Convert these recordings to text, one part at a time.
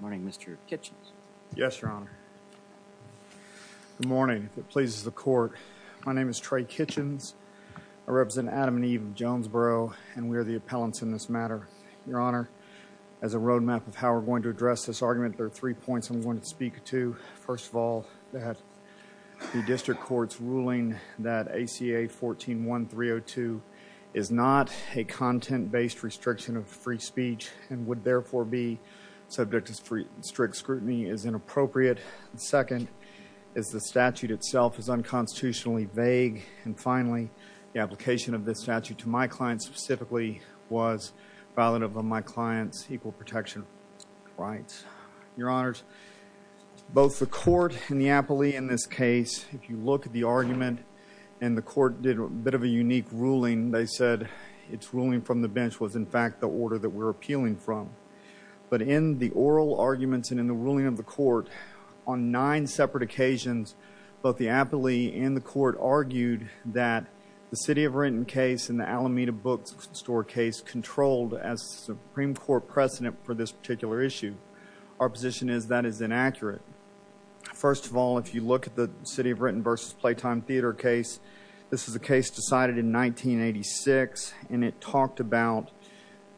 Morning, Mr. Kitchens. Yes, Your Honor. Good morning. If it pleases the court, my name is Trey Kitchens. I represent Adam and Eve Jonesboro, and we are the appellants in this matter. Your Honor, as a roadmap of how we're going to address this argument, there are three points I'm going to speak to. First of all, that the district court's ruling that ACA 14-1302 is not a content-based restriction of free speech and would therefore be subject to strict scrutiny is inappropriate. Second, is the statute itself is unconstitutionally vague. And finally, the application of this statute to my client specifically was violative of my client's equal protection rights. Your Honors, both the court and the appellee in this case, if you look at the argument, and the court did a bit of a unique ruling, they said its ruling from the bench was in fact the order that we're appealing from. But in the oral arguments and in the ruling of the court, on nine separate occasions, both the appellee and the court argued that the City of Renton case and the Alameda bookstore case controlled as Supreme Court precedent for this particular issue. Our position is that is inaccurate. First of all, if you look at the City of Renton versus Playtime Theater case, this is a case decided in 1986, and it talked about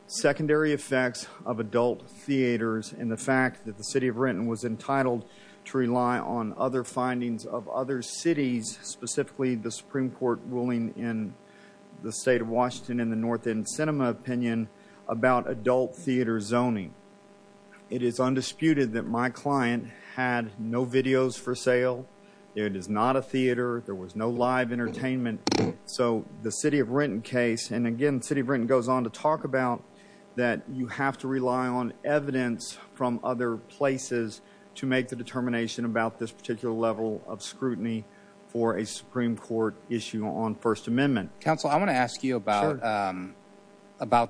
secondary effects of adult theaters and the fact that the City of Renton was entitled to rely on other findings of other cities, specifically the Supreme Court ruling in the State of Washington and the North End Cinema opinion about adult theater zoning. It is undisputed that my client had no videos for sale. It is not a theater. There was no live entertainment. So the City of Renton case, and again, City of Renton goes on to talk about that you have to rely on evidence from other places to make the determination about this particular level of scrutiny for a Supreme Court issue on First Amendment. Counsel, I want to ask you about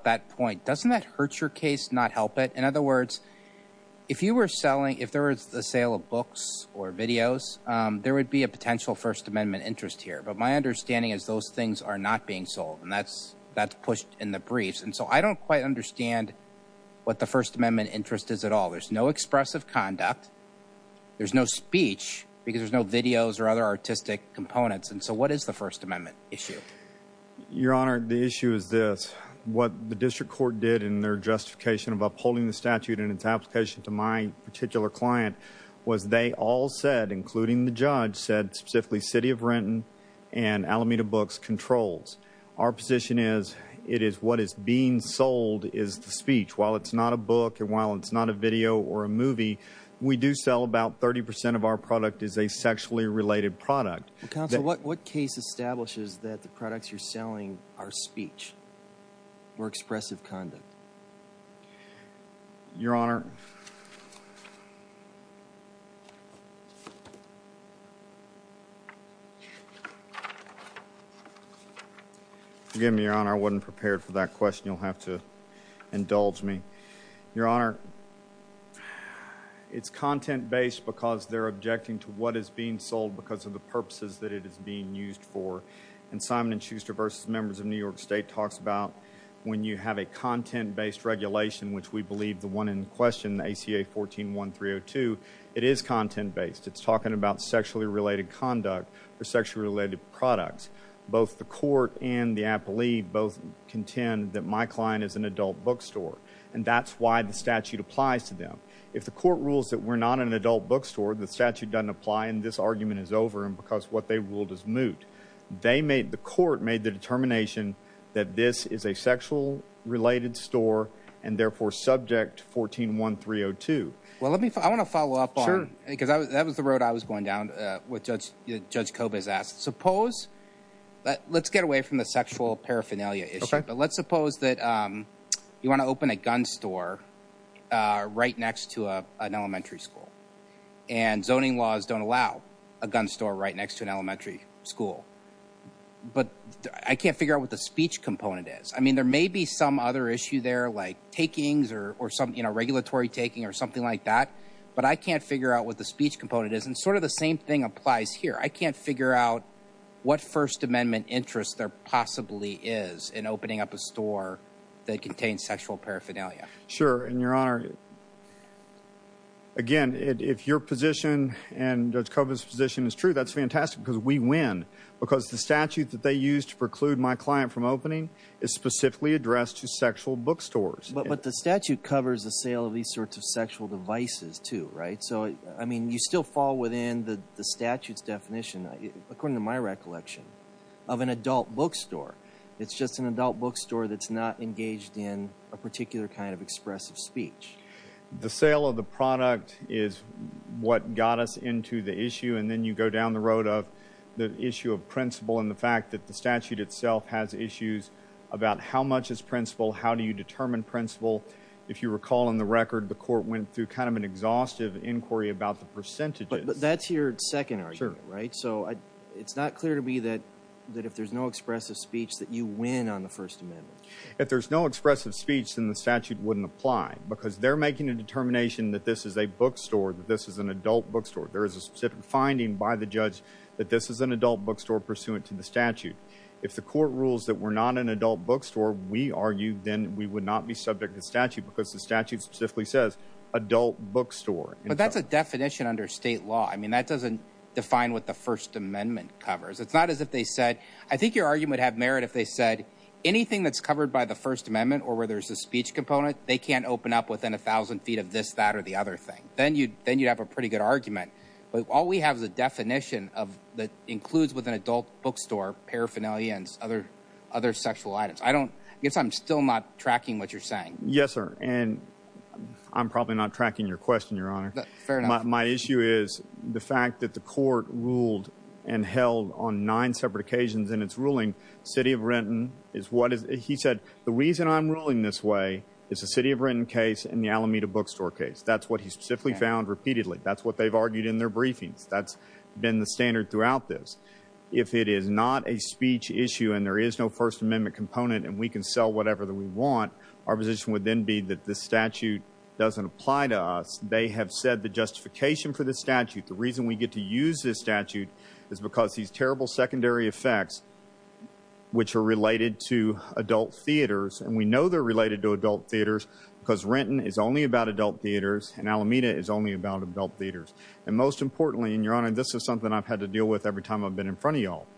that point. Doesn't that hurt your case, not help it? In other words, if you were selling, if there was the sale of books or videos, there would be a potential First Amendment interest here. But my understanding is those things are not being sold and that's pushed in the briefs. And so I don't quite understand what the First Amendment interest is at all. There's no expressive conduct. There's no speech because there's no videos or other artistic components. And so what is the First Amendment issue? Your Honor, the issue is this. What the district court did in their justification of upholding the statute and its application to my particular client was they all said, including the judge, said specifically City of Renton and Alameda Books controls. Our position is it is what is being sold is the speech. While it's not a book and while it's not a video or a movie, we do sell about 30 percent of our product is a sexually related product. Counsel, what case establishes that the products you're selling are speech or expressive conduct? Your Honor, forgive me, Your Honor, I wasn't prepared for that question. You'll have to indulge me. Your Honor, it's content-based because they're objecting to what is being sold because of the purposes that it is being used for. And Simon & Schuster v. Members of New York State talks about when you have a content-based regulation, which we believe the one in question, the ACA 14-1302, it is content-based. It's talking about sexually related conduct or sexually related products. Both the court and the appellee both contend that my client is an adult bookstore and that's why the statute applies to them. If the court rules that we're not an adult bookstore, the statute doesn't apply and this argument is over because what they ruled is moot. They made, the court made the determination that this is a sexual related store and therefore subject to 14-1302. Well, let me, I want to follow up on, because that was the road I was going down, what Judge Kobe has asked. Suppose, let's get away from the sexual paraphernalia issue, but let's suppose that you want to open a gun store right next to an elementary school. And zoning laws don't allow a gun store right next to an elementary school. But I can't figure out what the speech component is. I mean, there may be some other issue there like takings or some, you know, regulatory taking or something like that. But I can't figure out what the speech component is and sort of the same thing applies here. I can't figure out what First Amendment interest there possibly is in opening up a store that contains sexual paraphernalia. Sure, and Your Honor, again, if your position and Judge Kobe's position is true, that's fantastic because we win. Because the statute that they used to preclude my client from opening is specifically addressed to sexual bookstores. But the statute covers the sale of these sorts of sexual devices too, right? So, I mean, you still fall within the statute's definition, according to my recollection, of an adult bookstore. It's just an adult bookstore that's not engaged in a particular kind of expressive speech. The sale of the product is what got us into the issue. And then you go down the road of the issue of principle and the fact that the statute itself has issues about how much is principle, how do you determine principle. If you recall in the record, the court went through kind of an exhaustive inquiry about the percentages. But that's your second argument, right? So it's not clear to me that if there's no expressive speech that you win on the First Amendment. If there's no expressive speech, then the statute wouldn't apply because they're making a determination that this is a bookstore, that this is an adult bookstore. There is a specific finding by the judge that this is an adult bookstore pursuant to the statute. If the court rules that we're not an adult bookstore, we argue then we would not be subject to the statute because the statute specifically says adult bookstore. But that's a definition under state law. I mean, that doesn't define what the First Amendment covers. It's not as if they said – I think your argument would have merit if they said anything that's covered by the First Amendment or where there's a speech component, they can't open up within a thousand feet of this, that, or the other thing. Then you'd have a pretty good argument. But all we have is a definition that includes with an adult bookstore paraphernalia and other sexual items. I don't – I guess I'm still not tracking what you're saying. Yes, sir. And I'm probably not tracking your question, Your Honor. Fair enough. My issue is the fact that the court ruled and held on nine separate occasions in its ruling. City of Renton is what is – he said the reason I'm ruling this way is the City of Renton case and the Alameda bookstore case. That's what he specifically found repeatedly. That's what they've argued in their briefings. That's been the standard throughout this. If it is not a speech issue and there is no First Amendment component and we can sell whatever we want, our position would then be that this statute doesn't apply to us. They have said the justification for this statute, the reason we get to use this statute, is because these terrible secondary effects, which are related to adult theaters – and we know they're related to adult theaters because Renton is only about adult theaters and Alameda is only about adult theaters. And most importantly – and, Your Honor, this is something I've had to deal with every time I've been in front of y'all –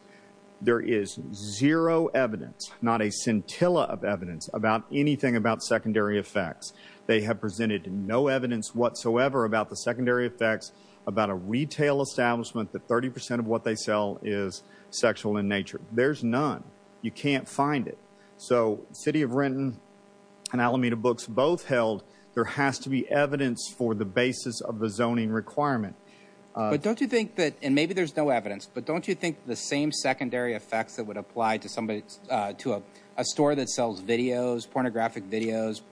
there is zero evidence, not a scintilla of evidence, about anything about secondary effects. They have presented no evidence whatsoever about the secondary effects about a retail establishment that 30 percent of what they sell is sexual in nature. There's none. You can't find it. So, City of Renton and Alameda Books both held there has to be evidence for the basis of the zoning requirement. But don't you think that – and maybe there's no evidence – but don't you think the same secondary effects that would apply to somebody – to a store that sells videos, pornographic videos,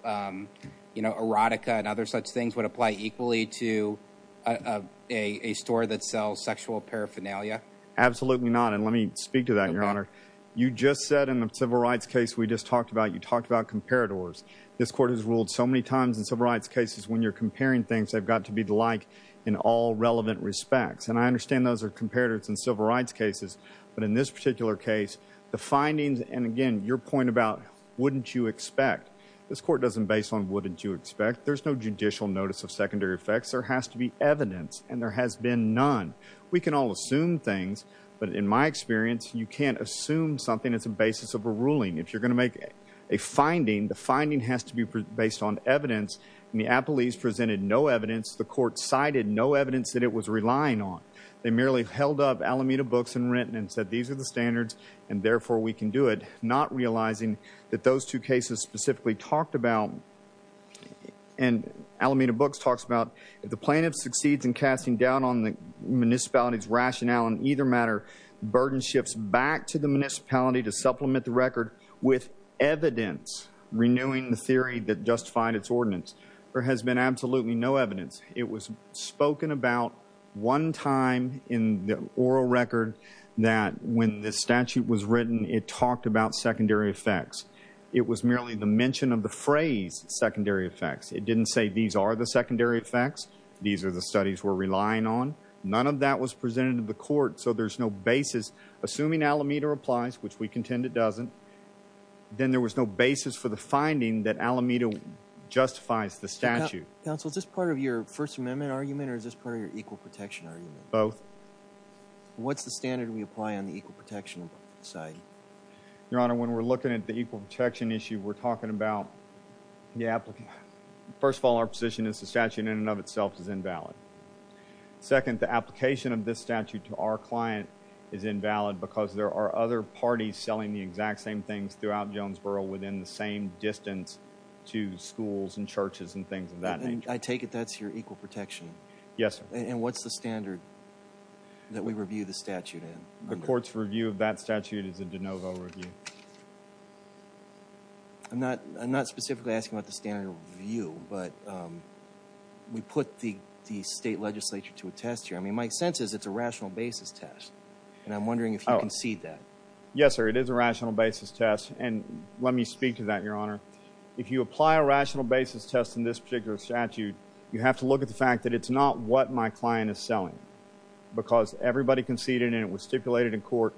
erotica and other such things would apply equally to a store that sells sexual paraphernalia? Absolutely not. And let me speak to that, Your Honor. You just said in the civil rights case we just talked about, you talked about comparators. This Court has ruled so many times in civil rights cases when you're comparing things, they've got to be alike in all relevant respects. And I understand those are comparators in civil rights cases. But in this particular case, the findings – and, again, your point about wouldn't you expect. This Court doesn't base on wouldn't you expect. There's no judicial notice of secondary effects. There has to be evidence. And there has been none. We can all assume things. But in my experience, you can't assume something that's a basis of a ruling. If you're going to make a finding, the finding has to be based on evidence. And the appellees presented no evidence. The Court cited no evidence that it was relying on. They merely held up Alameda Books and Renton and said these are the standards and, therefore, we can do it, not realizing that those two cases specifically talked about – and Alameda Books talks about – the plaintiff succeeds in casting doubt on the municipality's rationale in either matter. Burden shifts back to the municipality to supplement the record with evidence renewing the theory that justified its ordinance. There has been absolutely no evidence. It was spoken about one time in the oral record that when the statute was written, it talked about secondary effects. It was merely the mention of the phrase secondary effects. It didn't say these are the secondary effects. These are the studies we're relying on. None of that was presented to the Court, so there's no basis. Assuming Alameda applies, which we contend it doesn't, then there was no basis for the finding that Alameda justifies the statute. Counsel, is this part of your First Amendment argument or is this part of your equal protection argument? Both. What's the standard we apply on the equal protection side? Your Honor, when we're looking at the equal protection issue, we're talking about – first of all, our position is the statute in and of itself is invalid. Second, the application of this statute to our client is invalid because there are other parties selling the exact same things throughout Jonesboro within the same distance to schools and churches and things of that nature. I take it that's your equal protection? Yes, sir. And what's the standard that we review the statute in? The Court's review of that statute is a de novo review. I'm not specifically asking about the standard review, but we put the state legislature to a test here. I mean, my sense is it's a rational basis test, and I'm wondering if you concede that. Yes, sir, it is a rational basis test, and let me speak to that, Your Honor. If you apply a rational basis test in this particular statute, you have to look at the fact that it's not what my client is selling because everybody conceded and it was stipulated in court.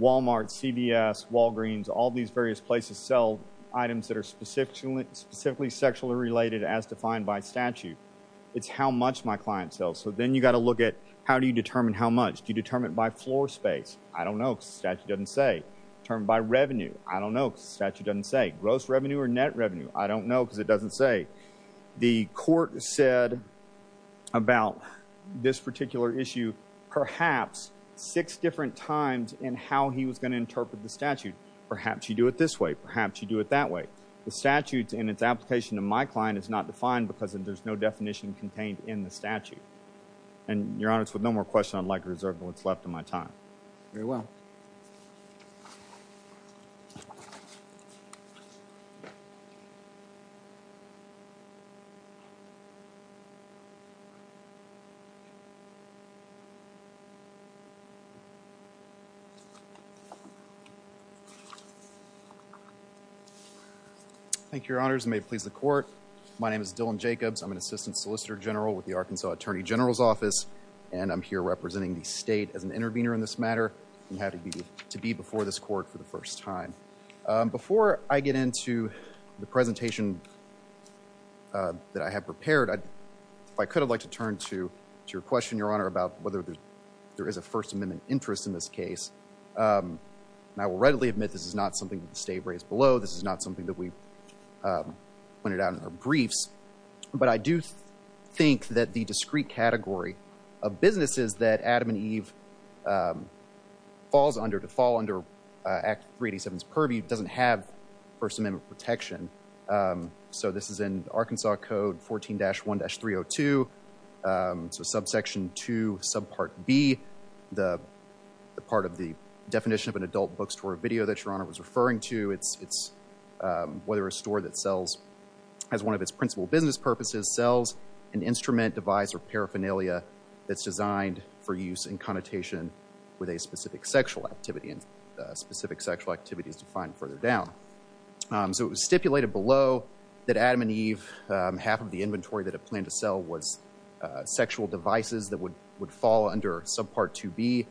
Walmart, CVS, Walgreens, all these various places sell items that are specifically sexually related as defined by statute. It's how much my client sells. So then you've got to look at how do you determine how much? Do you determine it by floor space? I don't know because the statute doesn't say. Determine it by revenue? I don't know because the statute doesn't say. Gross revenue or net revenue? I don't know because it doesn't say. The court said about this particular issue perhaps six different times in how he was going to interpret the statute. Perhaps you do it this way. Perhaps you do it that way. The statute and its application to my client is not defined because there's no definition contained in the statute. And, Your Honor, with no more questions, I'd like to reserve what's left of my time. Very well. Thank you. Thank you, Your Honors. May it please the court. My name is Dylan Jacobs. I'm an Assistant Solicitor General with the Arkansas Attorney General's Office, and I'm here representing the state as an intervener in this matter and happy to be before this court for the first time. Before I get into the presentation that I have prepared, if I could, I'd like to turn to your question, Your Honor, about whether there is a First Amendment interest in this case. And I will readily admit this is not something that the state raised below. This is not something that we pointed out in our briefs. But I do think that the discrete category of businesses that Adam and Eve falls under to fall under Act 387's purview doesn't have First Amendment protection. So this is in Arkansas Code 14-1-302, so subsection 2, subpart B, the part of the definition of an adult bookstore video that Your Honor was referring to. It's whether a store that sells as one of its principal business purposes sells an instrument, device, or paraphernalia that's designed for use in connotation with a specific sexual activity and specific sexual activities defined further down. So it was stipulated below that Adam and Eve, half of the inventory that it planned to sell was sexual devices that would fall under subpart 2B.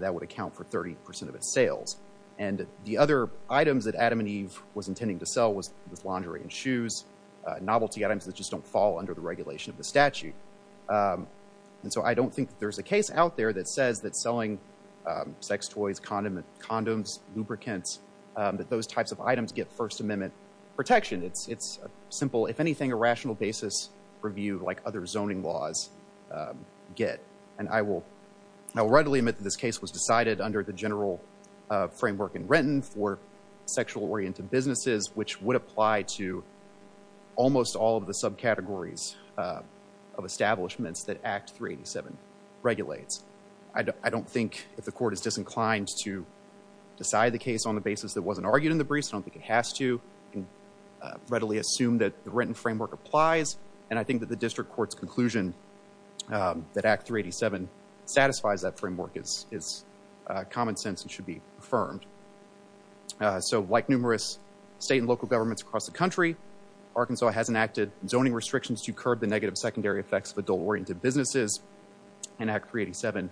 That would account for 30 percent of its sales. And the other items that Adam and Eve was intending to sell was laundry and shoes, novelty items that just don't fall under the regulation of the statute. And so I don't think that there's a case out there that says that selling sex toys, condoms, lubricants, that those types of items get First Amendment protection. It's simple, if anything, a rational basis purview like other zoning laws get. And I will readily admit that this case was decided under the general framework in Renton for sexual-oriented businesses, which would apply to almost all of the subcategories of establishments that Act 387 regulates. I don't think if the court is disinclined to decide the case on the basis that wasn't argued in the briefs, I don't think it has to. I can readily assume that the Renton framework applies. And I think that the district court's conclusion that Act 387 satisfies that framework is common sense and should be affirmed. So like numerous state and local governments across the country, Arkansas has enacted zoning restrictions to curb the negative secondary effects of adult-oriented businesses. And Act 387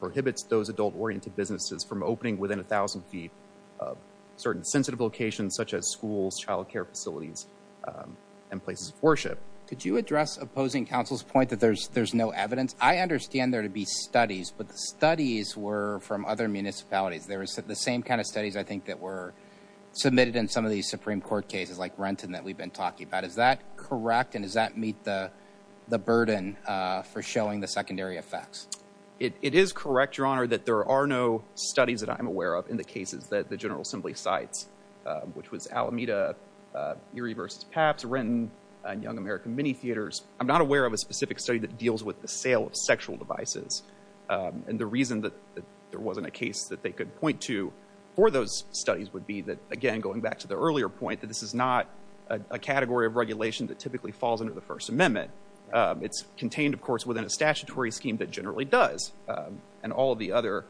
prohibits those adult-oriented businesses from opening within 1,000 feet of certain sensitive locations such as schools, child care facilities, and places of worship. Could you address opposing counsel's point that there's no evidence? I understand there to be studies, but the studies were from other municipalities. They were the same kind of studies, I think, that were submitted in some of these Supreme Court cases like Renton that we've been talking about. Is that correct, and does that meet the burden for showing the secondary effects? It is correct, Your Honor, that there are no studies that I'm aware of in the cases that the General Assembly cites, which was Alameda, Erie v. Pabst, Renton, and Young American Mini Theaters. I'm not aware of a specific study that deals with the sale of sexual devices. And the reason that there wasn't a case that they could point to for those studies would be that, again, going back to the earlier point, that this is not a category of regulation that typically falls under the First Amendment. It's contained, of course, within a statutory scheme that generally does, and all of the other.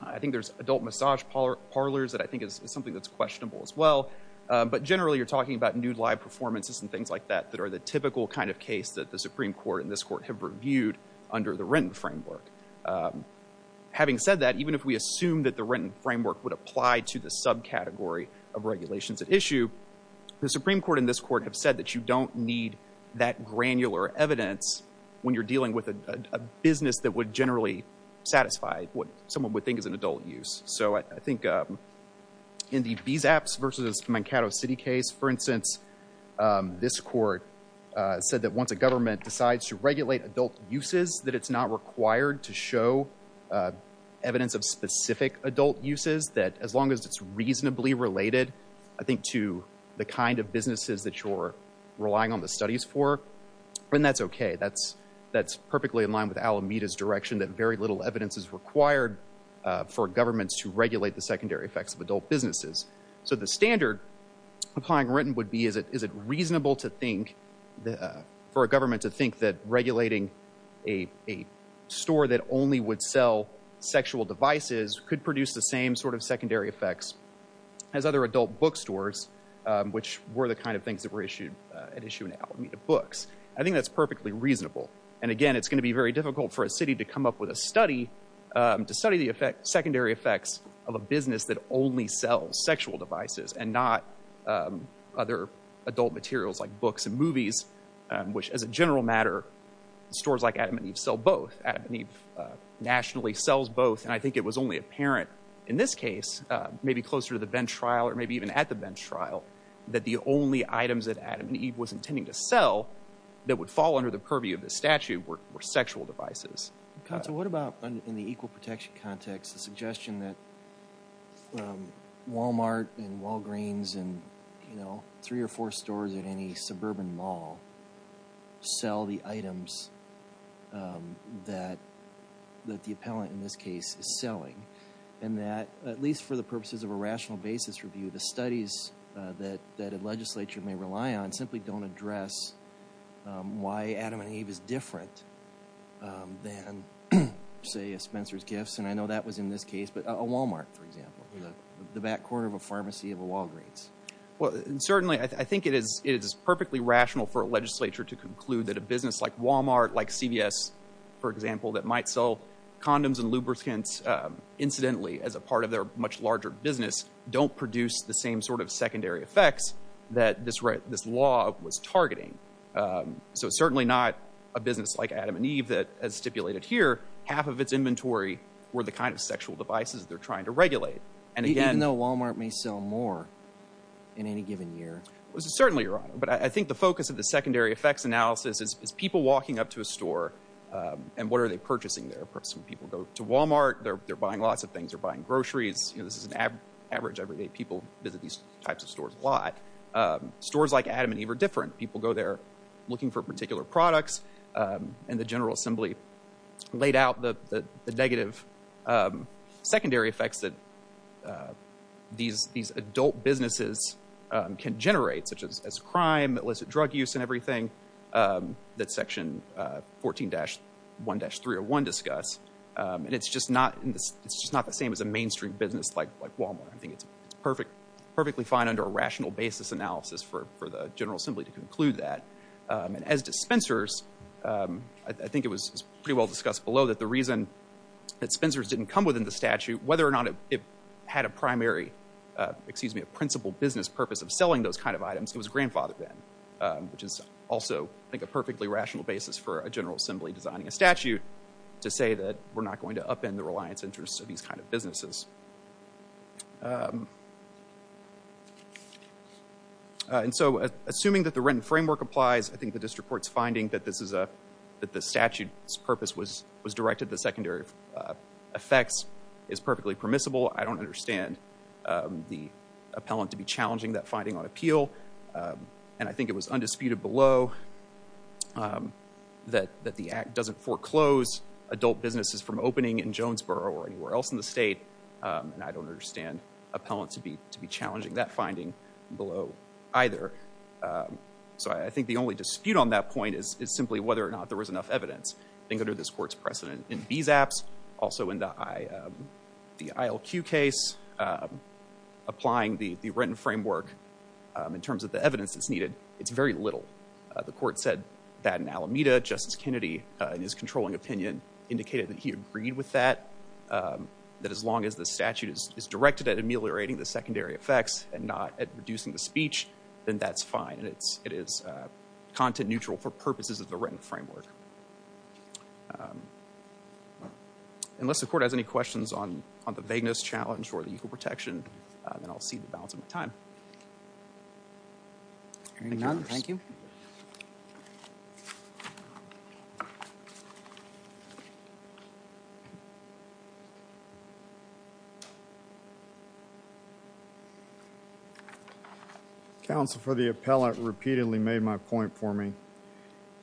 I think there's adult massage parlors that I think is something that's questionable as well. But generally, you're talking about nude live performances and things like that that are the typical kind of case that the Supreme Court and this Court have reviewed under the Renton framework. Having said that, even if we assume that the Renton framework would apply to the subcategory of regulations at issue, the Supreme Court and this Court have said that you don't need that granular evidence when you're dealing with a business that would generally satisfy what someone would think is an adult use. So I think in the Bezaps versus Mankato City case, for instance, this Court said that once a government decides to regulate adult uses, that it's not required to show evidence of specific adult uses, that as long as it's reasonably related, I think, to the kind of businesses that you're relying on the studies for, then that's okay. That's perfectly in line with Alameda's direction that very little evidence is required for governments to regulate the secondary effects of adult businesses. So the standard applying Renton would be is it reasonable for a government to think that regulating a store that only would sell sexual devices could produce the same sort of secondary effects as other adult bookstores, which were the kind of things that were at issue in Alameda books. I think that's perfectly reasonable. And again, it's going to be very difficult for a city to come up with a study, to study the secondary effects of a business that only sells sexual devices and not other adult materials like books and movies, which as a general matter, stores like Adam and Eve sell both. Adam and Eve nationally sells both, and I think it was only apparent in this case, maybe closer to the bench trial or maybe even at the bench trial, that the only items that Adam and Eve was intending to sell that would fall under the purview of this statute were sexual devices. Counsel, what about in the equal protection context, the suggestion that Walmart and Walgreens and three or four stores at any suburban mall sell the items that the appellant in this case is selling, and that at least for the purposes of a rational basis review, the studies that a legislature may rely on simply don't address why Adam and Eve is different than, say, a Spencer's Gifts, and I know that was in this case, but a Walmart, for example, the back corner of a pharmacy of a Walgreens. Well, certainly I think it is perfectly rational for a legislature to conclude that a business like Walmart, like CVS, for example, that might sell condoms and lubricants incidentally as a part of their much larger business don't produce the same sort of secondary effects that this law was targeting. So it's certainly not a business like Adam and Eve that, as stipulated here, half of its inventory were the kind of sexual devices they're trying to regulate. Even though Walmart may sell more in any given year? Certainly, Your Honor. But I think the focus of the secondary effects analysis is people walking up to a store and what are they purchasing there? Some people go to Walmart. They're buying lots of things. They're buying groceries. This is an average everyday people visit these types of stores a lot. Stores like Adam and Eve are different. People go there looking for particular products, and the General Assembly laid out the negative secondary effects that these adult businesses can generate, such as crime, illicit drug use, and everything that Section 14-1-301 discuss, and it's just not the same as a mainstream business like Walmart. I think it's perfectly fine under a rational basis analysis for the General Assembly to conclude that. And as dispensers, I think it was pretty well discussed below that the reason that dispensers didn't come within the statute, whether or not it had a principal business purpose of selling those kind of items, it was grandfathered then, which is also, I think, a perfectly rational basis for a General Assembly designing a statute to say that we're not going to upend the reliance interests of these kind of businesses. And so assuming that the written framework applies, I think the district court's finding that the statute's purpose was directed to secondary effects is perfectly permissible. I don't understand the appellant to be challenging that finding on appeal, and I think it was undisputed below that the Act doesn't foreclose adult businesses from opening in Jonesboro or anywhere else in the state, and I don't understand appellants to be challenging that finding below either. So I think the only dispute on that point is simply whether or not there was enough evidence. I think under this court's precedent in these apps, also in the ILQ case, applying the written framework in terms of the evidence that's needed, it's very little. The court said that in Alameda. Justice Kennedy, in his controlling opinion, indicated that he agreed with that, that as long as the statute is directed at ameliorating the secondary effects and not at reducing the speech, then that's fine, and it is content neutral for purposes of the written framework. Unless the court has any questions on the vagueness challenge or the equal protection, then I'll cede the balance of my time. Hearing none, thank you. Counsel for the appellant repeatedly made my point for me,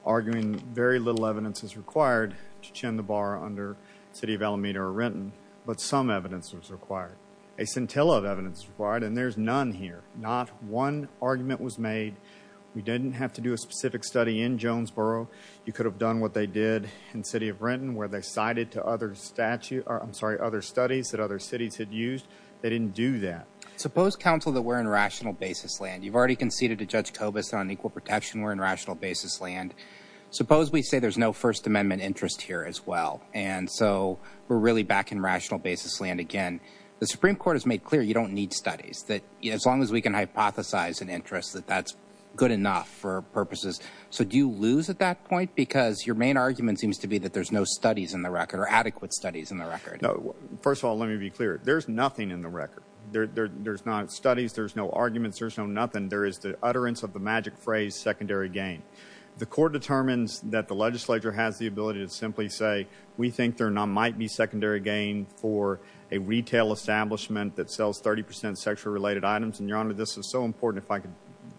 arguing very little evidence is required to chin the bar under the city of Alameda or Renton, but some evidence was required. A scintilla of evidence was required, and there's none here. Not one argument was made. We didn't have to do a specific study in Jonesboro. You could have done what they did in the city of Renton, where they cited other studies that other cities had used. They didn't do that. Suppose, counsel, that we're in rational basis land. You've already conceded to Judge Kobus on equal protection. We're in rational basis land. Suppose we say there's no First Amendment interest here as well, and so we're really back in rational basis land again. The Supreme Court has made clear you don't need studies, that as long as we can hypothesize an interest, that that's good enough for purposes. So do you lose at that point? Because your main argument seems to be that there's no studies in the record or adequate studies in the record. No. First of all, let me be clear. There's nothing in the record. There's not studies. There's no arguments. There's no nothing. There is the utterance of the magic phrase, secondary gain. The court determines that the legislature has the ability to simply say, we think there might be secondary gain for a retail establishment that sells 30 percent sexually related items. And, Your Honor, this is so important, if I could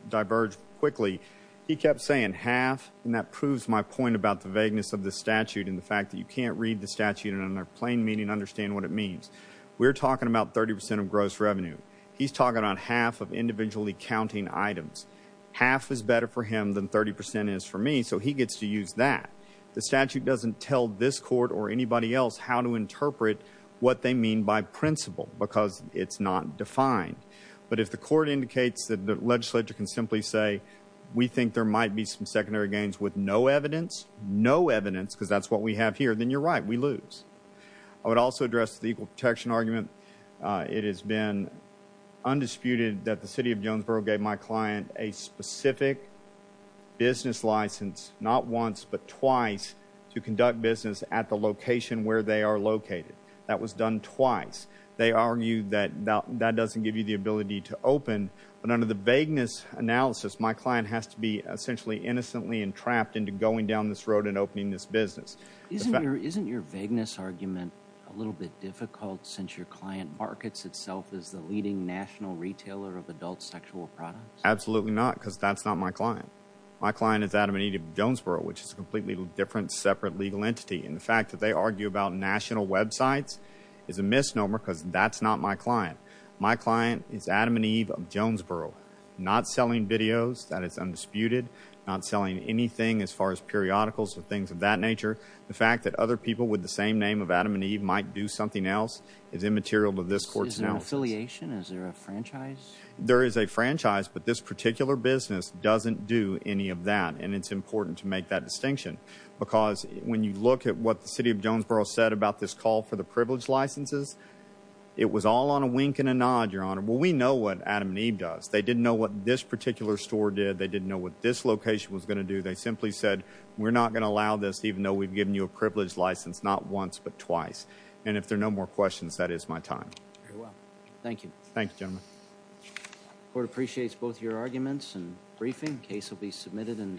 diverge quickly. He kept saying half, and that proves my point about the vagueness of the statute and the fact that you can't read the statute in a plain meaning and understand what it means. We're talking about 30 percent of gross revenue. He's talking on half of individually counting items. Half is better for him than 30 percent is for me, so he gets to use that. The statute doesn't tell this court or anybody else how to interpret what they mean by principle because it's not defined. But if the court indicates that the legislature can simply say, we think there might be some secondary gains with no evidence, no evidence, because that's what we have here, then you're right. We lose. I would also address the equal protection argument. It has been undisputed that the city of Jonesboro gave my client a specific business license, not once but twice, to conduct business at the location where they are located. That was done twice. They argued that that doesn't give you the ability to open. But under the vagueness analysis, my client has to be essentially innocently entrapped into going down this road and opening this business. Isn't your vagueness argument a little bit difficult since your client markets itself as the leading national retailer of adult sexual products? Absolutely not because that's not my client. My client is Adam and Eve of Jonesboro, which is a completely different separate legal entity. And the fact that they argue about national websites is a misnomer because that's not my client. My client is Adam and Eve of Jonesboro, not selling videos. That is undisputed. Not selling anything as far as periodicals or things of that nature. The fact that other people with the same name of Adam and Eve might do something else is immaterial to this court's analysis. Is there an affiliation? Is there a franchise? There is a franchise, but this particular business doesn't do any of that. And it's important to make that distinction because when you look at what the city of Jonesboro said about this call for the privilege licenses, it was all on a wink and a nod, Your Honor. Well, we know what Adam and Eve does. They didn't know what this particular store did. They didn't know what this location was going to do. They simply said, we're not going to allow this even though we've given you a privilege license not once but twice. And if there are no more questions, that is my time. Very well. Thank you. Thank you, gentlemen. The court appreciates both your arguments and briefing. The case will be submitted in the...